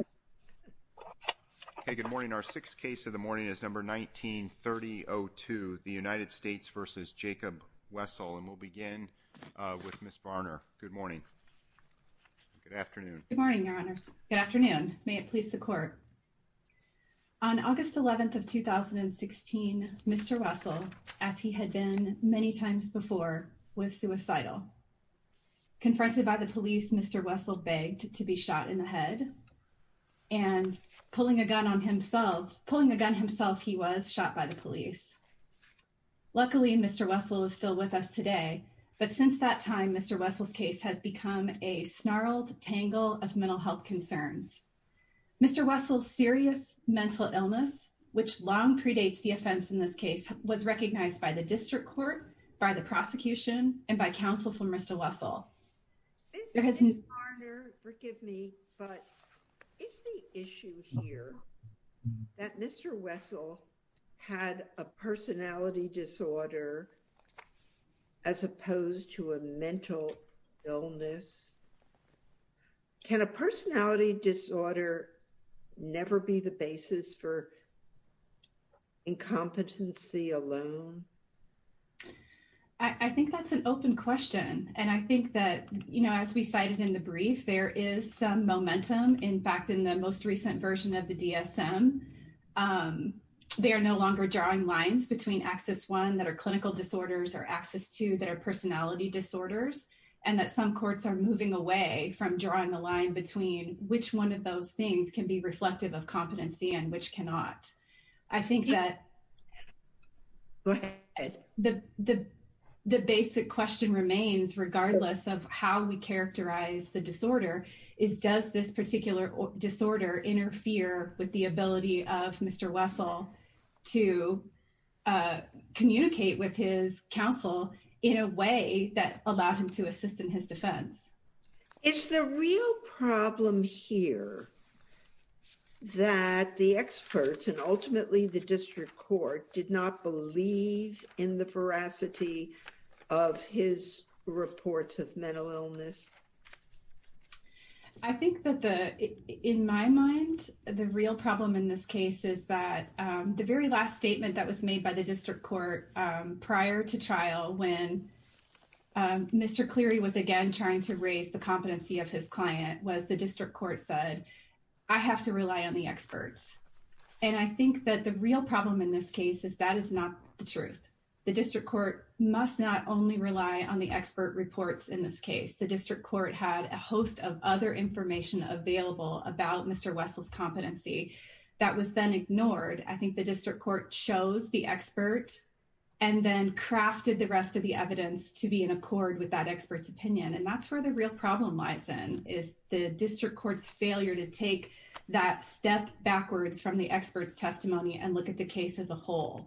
and we'll begin with Ms. Barner. Good morning. Good afternoon. Good morning, Your Honors. Good afternoon. May it please the court. On August 11th of 2016, Mr. Wessel, as he had been many times before, was suicidal. Confronted by the police, Mr. Wessel begged to be shot in the head. And pulling a gun on himself, pulling a gun himself, he was shot by the police. Luckily, Mr. Wessel is still with us today. But since that time, Mr. Wessel's case has become a snarled tangle of mental health concerns. Mr. Wessel's serious mental illness, which long predates the offense in this case, was recognized by the district court, by the prosecution, and by counsel from Mr. Wessel. Ms. Barner, forgive me, but is the issue here that Mr. Wessel had a personality disorder as opposed to a mental illness? Can a personality disorder never be the basis for incompetency alone? I think that's an open question. And I think that, you know, as we cited in the brief, there is some momentum. In fact, in the most recent version of the DSM, they are no longer drawing lines between access one that are clinical disorders or access to their personality disorders, and that some courts are moving away from drawing the line between which one of those things can be reflective of competency and which cannot. I think that the basic question remains, regardless of how we characterize the disorder, is does this particular disorder interfere with the ability of Mr. Wessel to communicate with his counsel in a way that allowed him to assist in his defense? Is the real problem here that the experts and ultimately the district court did not believe in the veracity of his reports of mental illness? I think that in my mind, the real problem in this case is that the very last statement that was made by the district court prior to trial when Mr. Cleary was again trying to raise the competency of his client was the district court said, I have to rely on the experts. And I think that the real problem in this case is that is not the truth. The district court had a host of other information available about Mr. Wessel's competency that was then ignored. I think the district court chose the expert and then crafted the rest of the evidence to be in accord with that expert's opinion. And that's where the real problem lies in, is the district court's failure to take that step backwards from the expert's testimony and look at the case as a whole.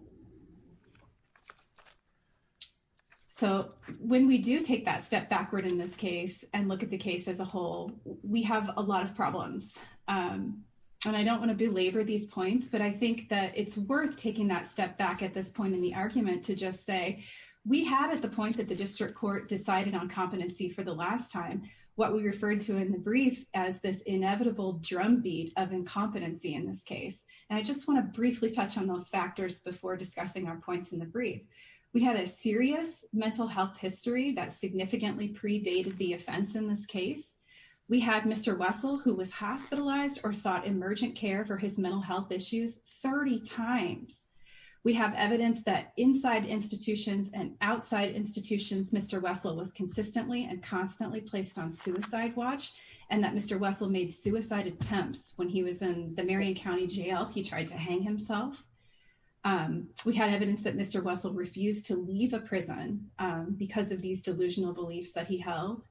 So when we do take that step backward in this case and look at the case as a whole, we have a lot of problems. And I don't want to belabor these points, but I think that it's worth taking that step back at this point in the argument to just say, we had at the point that the district court decided on competency for the last time, what we referred to in the brief as this inevitable drumbeat of incompetency in this case. And I just want to briefly touch on those factors before discussing our points in the brief. We had a serious mental health history that significantly predated the offense in this case. We had Mr. Wessel, who was hospitalized or sought emergent care for his mental health issues 30 times. We have evidence that inside institutions and outside institutions, Mr. Wessel was consistently and constantly placed on suicide watch, and that Mr. Wessel made suicide attempts when he was in the Marion County Jail, he tried to hang himself. We had evidence that Mr. Wessel refused to leave a prison because of these delusional beliefs that he held.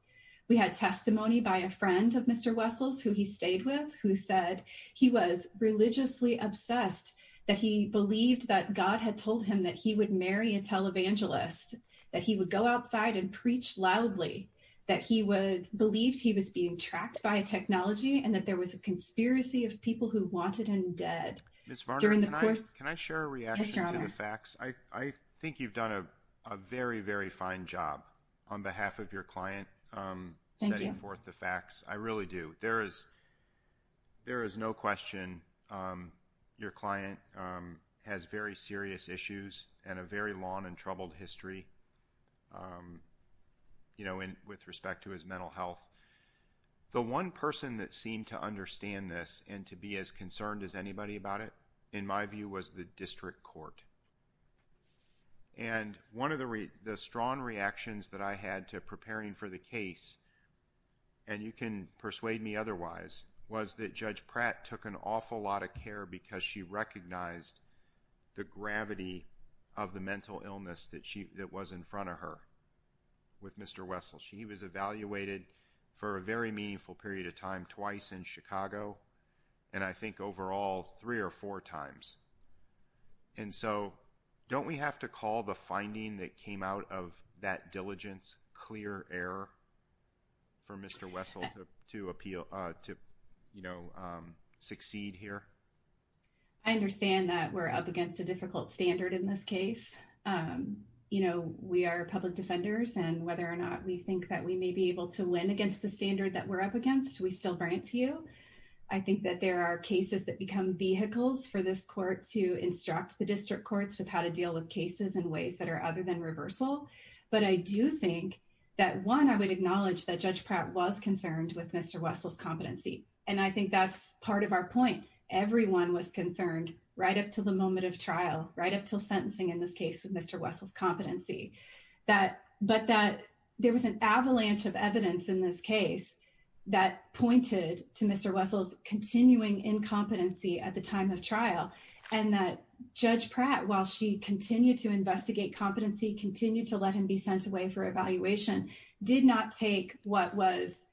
We had testimony by a friend of Mr. Wessel's who he stayed with, who said he was religiously obsessed, that he believed that God had told him that he would marry a televangelist, that he would go outside and preach loudly, that he believed he was being tracked by a technology and that there was a conspiracy of people who wanted him dead during the course of his trauma. Ms. Varner, can I share a reaction to the facts? I think you've done a very, very fine job on behalf of your client setting forth the facts. I really do. There is no question your client has very serious issues and a very long and troubled history with respect to his mental health. The one person that seemed to understand this and to be as concerned as anybody about it, in my view, was the district court. And one of the strong reactions that I had to preparing for the case, and you can persuade me otherwise, was that Judge Pratt took an awful lot of care because she recognized the gravity of the mental illness that was in front of her with Mr. Wessel. She was evaluated for a very meaningful period of time twice in Chicago, and I think overall, three or four times. And so, don't we have to call the finding that came out of that diligence clear error for Mr. Wessel to appeal, to, you know, succeed here? I understand that we're up against a difficult standard in this case. You know, we are public defenders, and whether or not we think that we may be able to win against the standard that we're up against, we still grant to you. I think that there are cases that become vehicles for this court to instruct the district courts with how to deal with cases in ways that are other than reversal. But I do think that one, I would acknowledge that Judge Pratt was concerned with Mr. Wessel's competency. And I think that's part of our point. Everyone was concerned right up to the moment of trial, right up till sentencing in this case with Mr. Wessel's competency. But that there was an avalanche of evidence in this case that pointed to Mr. Wessel's continuing incompetency at the time of trial, and that Judge Pratt, while she continued to investigate competency, continued to let him be sent away for evaluation, did not take what was,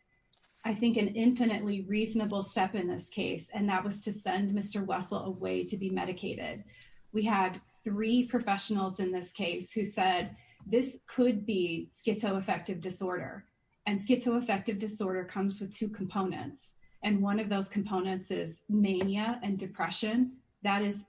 I think, an infinitely reasonable step in this case, and that was to send Mr. Wessel away to be medicated. We had three professionals in this case who said, this could be schizoaffective disorder. And schizoaffective disorder comes with two components. And one of those components is mania and depression. That is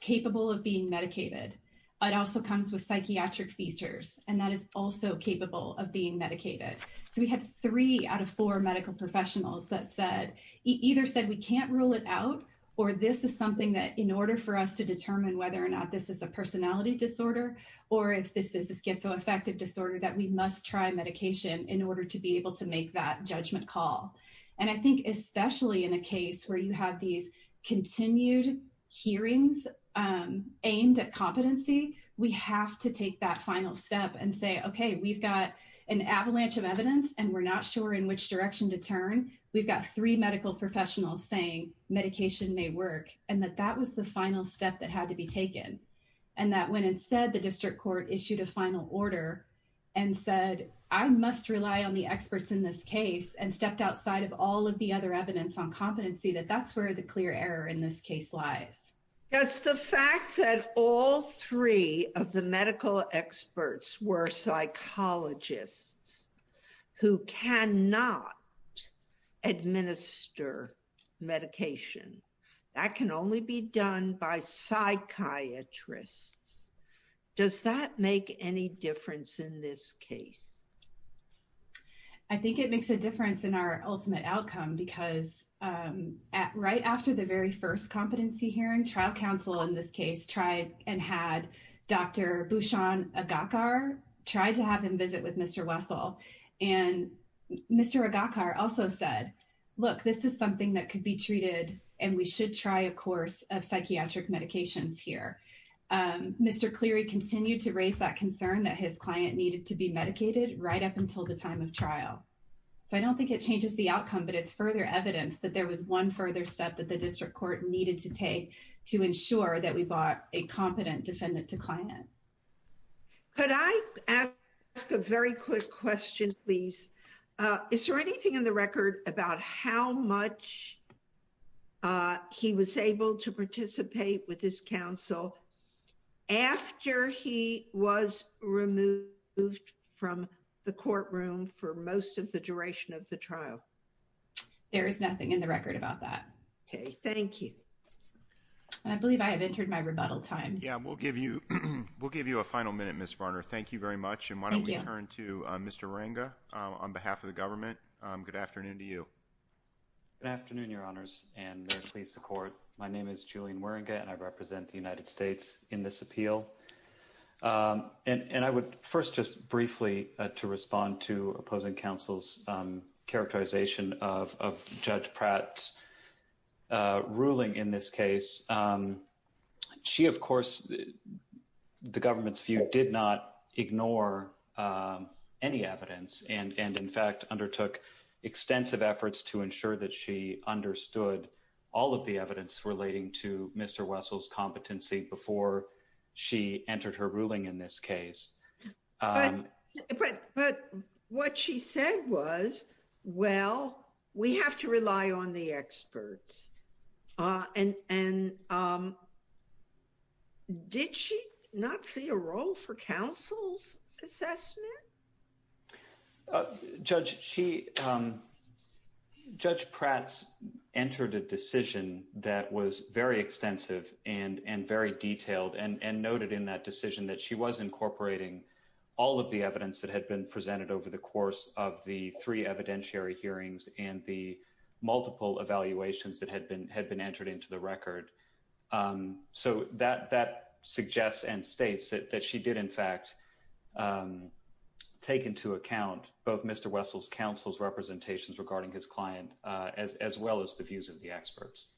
capable of being medicated. It also comes with psychiatric features, and that is also capable of being medicated. So we had three out of four medical professionals that said, either said, we can't rule it out, or this is something that in order for us to determine whether or not this is a personality disorder, or if this is a schizoaffective disorder, that we must try medication in order to be able to make that judgment call. And I think, especially in a case where you have these continued hearings aimed at competency, we have to take that final step and say, okay, we've got an avalanche of evidence, and we're not sure in which direction to turn. We've got three medical professionals saying, medication may work. And that that was the final step that had to be taken. And that when instead, the district court issued a final order and said, I must rely on the experts in this case, and stepped outside of all of the other evidence on competency, that that's where the clear error in this case lies. That's the fact that all three of the medical experts were psychologists who cannot administer medication, that can only be done by psychiatrists. Does that make any difference in this case? I think it makes a difference in our ultimate outcome, because right after the very competency hearing, trial counsel in this case tried and had Dr. Bushon Agakar try to have him visit with Mr. Wessel. And Mr. Agakar also said, look, this is something that could be treated, and we should try a course of psychiatric medications here. Mr. Cleary continued to raise that concern that his client needed to be medicated right up until the time of trial. So I don't think it changes the outcome, but it's further evidence that there was one further step that the district court needed to take to ensure that we bought a competent defendant to client. Could I ask a very quick question, please? Is there anything in the record about how much he was able to participate with his counsel after he was removed from the courtroom for most of the hearing? I believe I have entered my rebuttal time. Yeah, we'll give you a final minute, Ms. Varner. Thank you very much. And why don't we turn to Mr. Waringa on behalf of the government. Good afternoon to you. Good afternoon, your honors, and may it please the court. My name is Julian Waringa, and I represent the United States in this appeal. And I would first just briefly to respond to ruling in this case. She, of course, the government's view did not ignore any evidence, and in fact, undertook extensive efforts to ensure that she understood all of the evidence relating to Mr. Wessel's competency before she entered her ruling in this case. But what she said was, well, we have to rely on the experts. And did she not see a role for counsel's assessment? Judge Pratz entered a decision that was very extensive and very detailed and noted in that all of the evidence that had been presented over the course of the three evidentiary hearings and the multiple evaluations that had been entered into the record. So that suggests and states that she did, in fact, take into account both Mr. Wessel's counsel's representations regarding his client, as well as the views of the experts.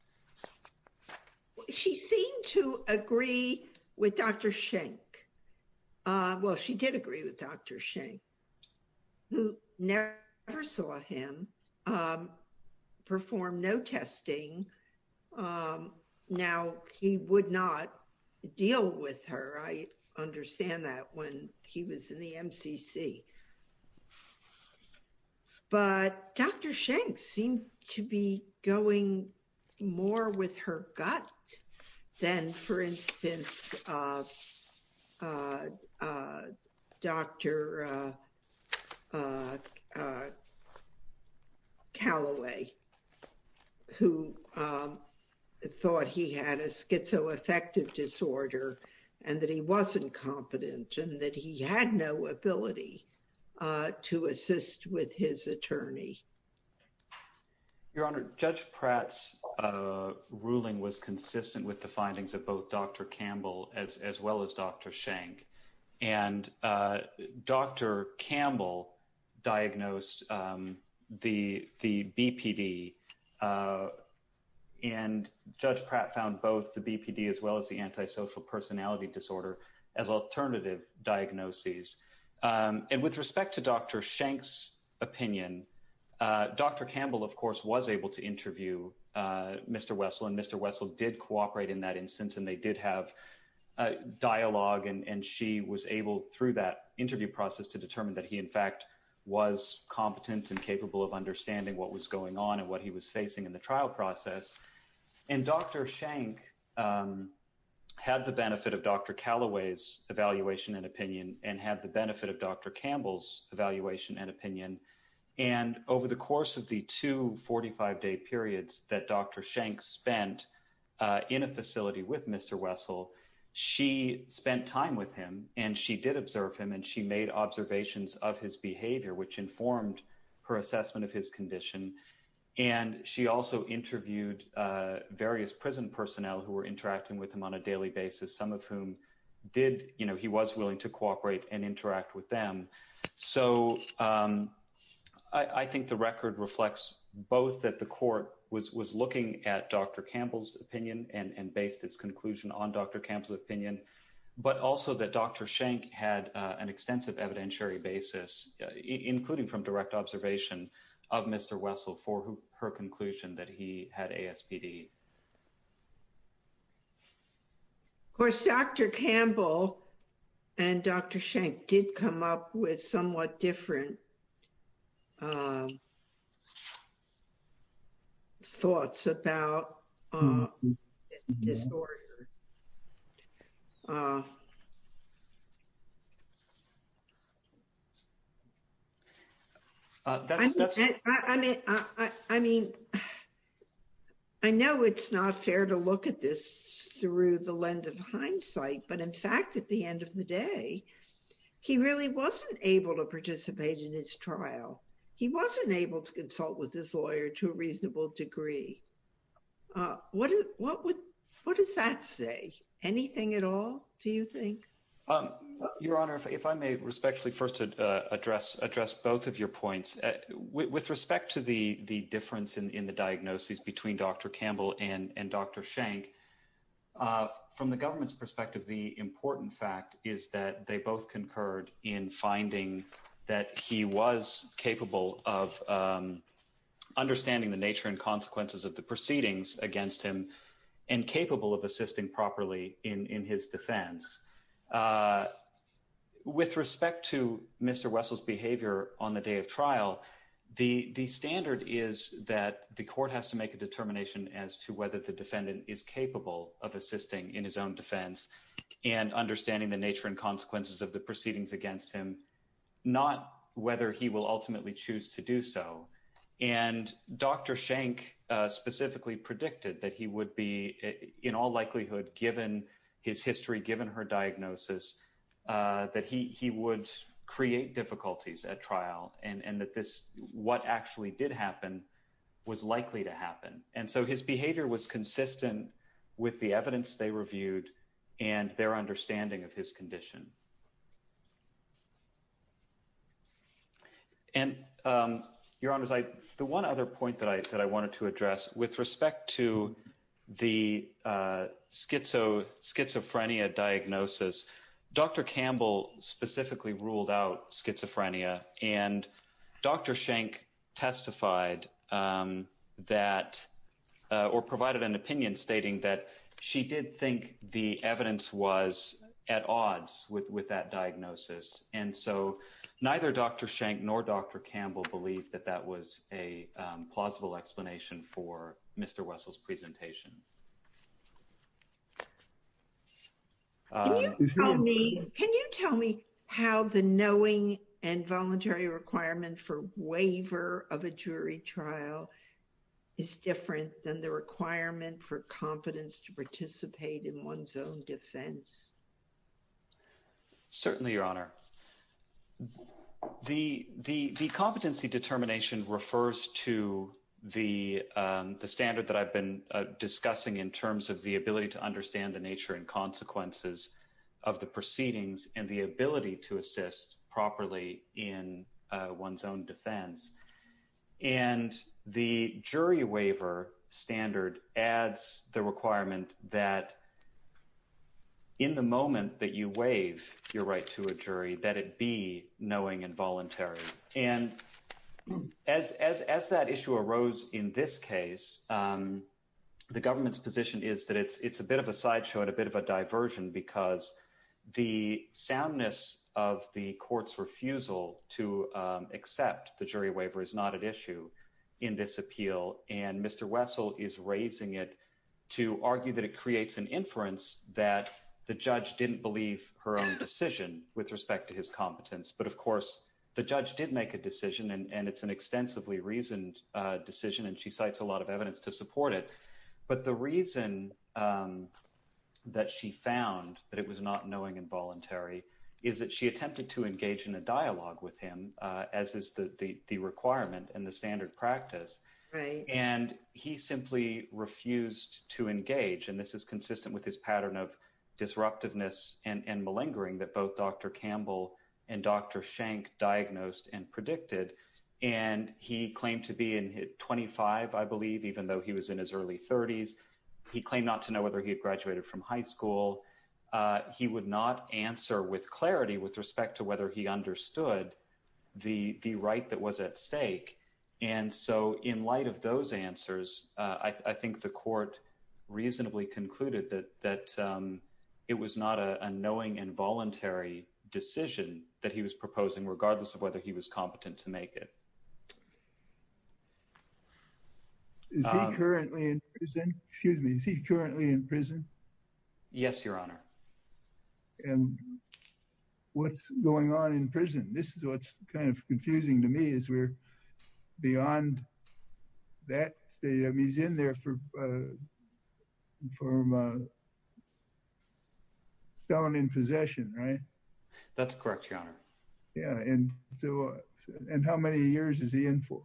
Well, she seemed to agree with Dr. Schenck. Well, she did agree with Dr. Schenck, who never saw him perform no testing. Now, he would not deal with her. I understand that when he was in the MCC. But Dr. Schenck seemed to be going more with her gut than, for instance, Dr. Callaway, who thought he had a schizoaffective disorder, and that he wasn't competent and that he had no ability to assist with his attorney. Your Honor, Judge Pratz ruling was consistent with the findings of both Dr. Campbell as well as Dr. Schenck. And Dr. Campbell diagnosed the BPD. And Judge Pratz found both the BPD as well as the antisocial personality disorder as alternative diagnoses. And with respect to Dr. Schenck's opinion, Dr. Campbell, of course, was able to interview Mr. Wessel. And Mr. Wessel did cooperate in that instance. And they did have a dialogue. And she was able through that interview process to determine that he, in fact, was competent and capable of understanding what was going on and what he was facing in the trial process. And Dr. Schenck had the benefit of Dr. Callaway's evaluation and opinion and had the benefit of Dr. Campbell's evaluation and opinion. And over the course of the two 45-day periods that Dr. Schenck spent in a facility with Mr. Wessel, she spent time with him. And she did observe him. And she made observations of his behavior, which informed her assessment of his condition. And she also interviewed various prison personnel who were interacting with him on a daily basis, some of whom did, you know, he was willing to cooperate and interact with them. So I think the record reflects both that the court was looking at Dr. Campbell's opinion and based its conclusion on Dr. Campbell's opinion, but also that Dr. Campbell's opinion on a voluntary basis, including from direct observation of Mr. Wessel for her conclusion that he had ASPD. Of course, Dr. Campbell and Dr. Schenck did come up with somewhat different thoughts about the case. I mean, I know it's not fair to look at this through the lens of hindsight, but in fact, at the end of the day, he really wasn't able to participate in his trial. He wasn't able to consult with this lawyer to a reasonable degree. What does that say? Anything at all, do you think? Your Honor, if I may respectfully first address both of your points. With respect to the difference in the diagnoses between Dr. Campbell and Dr. Schenck, from the government's perspective, the important fact is that they both concurred in finding that he was capable of understanding the nature and consequences of the proceedings against him and capable of assisting properly in his defense. With respect to Mr. Wessel's behavior on the day of trial, the standard is that the court has to make a determination as to whether the defendant is capable of assisting in his own defense and understanding the nature and consequences of the proceedings against him, not whether he will ultimately choose to do so. And Dr. Schenck specifically predicted that he given his history, given her diagnosis, that he would create difficulties at trial and that what actually did happen was likely to happen. And so his behavior was consistent with the evidence they reviewed and their understanding of his condition. And Your Honor, the one other point that I wanted to address with respect to the schizophrenia diagnosis, Dr. Campbell specifically ruled out schizophrenia and Dr. Schenck testified that or provided an opinion stating that she did think the evidence was at odds with that diagnosis. And so neither Dr. Schenck nor Dr. Campbell believe that that was a plausible explanation for Mr. Wessel's presentation. Can you tell me how the knowing and voluntary requirement for waiver of a jury trial is different than the requirement for competence to participate in one's own defense? Certainly, Your Honor. The competency determination refers to the standard that I've been discussing in terms of the ability to understand the nature and consequences of the proceedings and the ability to assist properly in one's own defense. And the jury waiver standard adds the requirement that in the moment that you waive your right to a jury, that it be knowing and voluntary. And as that issue arose in this case, the government's position is that it's a bit of a sideshow and a bit of a diversion because the soundness of the court's refusal to accept the jury waiver is not an issue in this appeal. And Mr. Wessel is raising it to argue that it creates an inference that the judge didn't believe her own decision with respect to his competence. But of course, the judge did make a decision and it's an extensively reasoned decision and she cites a lot of evidence to support it. But the reason that she found that it was not knowing and voluntary is that she attempted to engage in a dialogue with him, as is the requirement and the standard practice. And he simply refused to engage. And this is consistent with his pattern of disruptiveness and malingering that both Dr. Campbell and Dr. Schenk diagnosed and predicted. And he claimed to be 25, I believe, even though he was in his early 30s. He claimed not to know whether he had graduated from high school. He would not answer with clarity with respect to whether he understood the right that was at stake. And so in light of those answers, I think the court reasonably concluded that it was not a knowing and voluntary decision that he was proposing, regardless of whether he was competent to make it. Is he currently in prison? Excuse me, is he currently in prison? Yes, your honor. And what's going on in prison? This is what's kind of confusing to me is we're beyond that. He's in there for from a felon in possession, right? That's correct, your honor. Yeah. And so and how many years is he in for?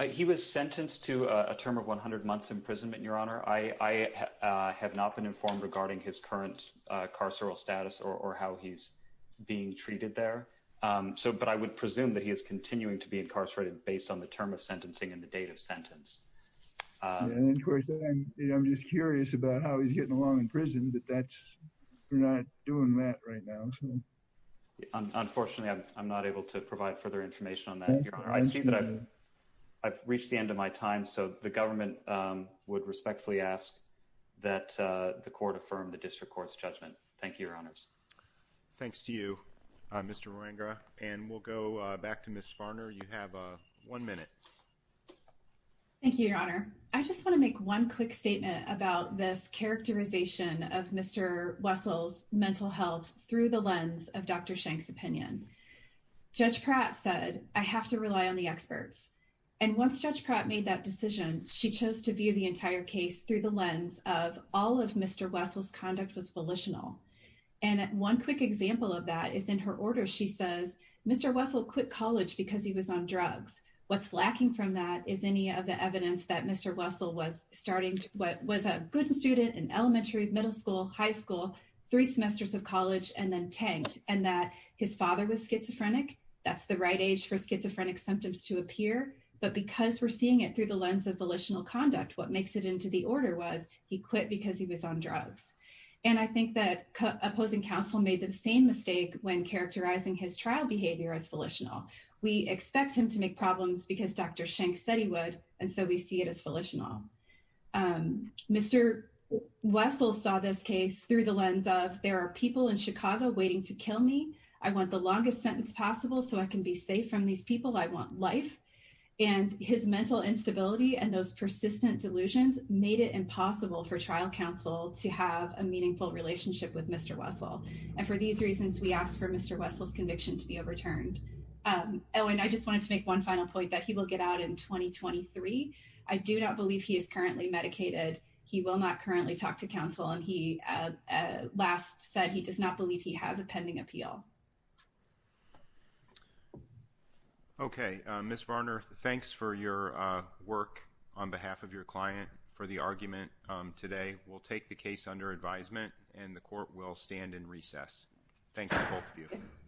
He was sentenced to a term of 100 months imprisonment, your honor. I have not been informed regarding his current carceral status or how he's being treated there. So but I would presume that he is continuing to be incarcerated based on the term of sentencing and the date of about how he's getting along in prison. But that's not doing that right now. Unfortunately, I'm not able to provide further information on that. I see that I've I've reached the end of my time. So the government would respectfully ask that the court affirmed the district court's judgment. Thank you, your honors. Thanks to you, Mr. Ranga. And we'll go back to Miss Farner. You have one minute. Thank you, your honor. I just want to make one quick statement about this characterization of Mr. Wessel's mental health through the lens of Dr. Shank's opinion. Judge Pratt said, I have to rely on the experts. And once Judge Pratt made that decision, she chose to view the entire case through the lens of all of Mr. Wessel's conduct was volitional. And one quick example of that is in her order, she says, Mr. Wessel quit college because he was on drugs. What's lacking from that is any of the evidence that Mr. Wessel was starting, what was a good student in elementary, middle school, high school, three semesters of college, and then tanked and that his father was schizophrenic. That's the right age for schizophrenic symptoms to appear. But because we're seeing it through the lens of volitional conduct, what makes it into the order was he quit because he was on drugs. And I think that opposing counsel made the same mistake when characterizing his trial behavior as volitional. We expect him to make problems because Dr. Shank said he would. And so we see it as volitional. Mr. Wessel saw this case through the lens of there are people in Chicago waiting to kill me. I want the longest sentence possible so I can be safe from these people. I want life. And his mental instability and those persistent delusions made it impossible for trial counsel to have a meaningful relationship with Mr. Wessel. And for these reasons, we ask for Mr. Owen. I just wanted to make one final point that he will get out in 2023. I do not believe he is currently medicated. He will not currently talk to counsel. And he last said he does not believe he has a pending appeal. Okay. Ms. Varner, thanks for your work on behalf of your client for the argument today. We'll take the case under advisement and the court will stand in recess. Thanks to both of you.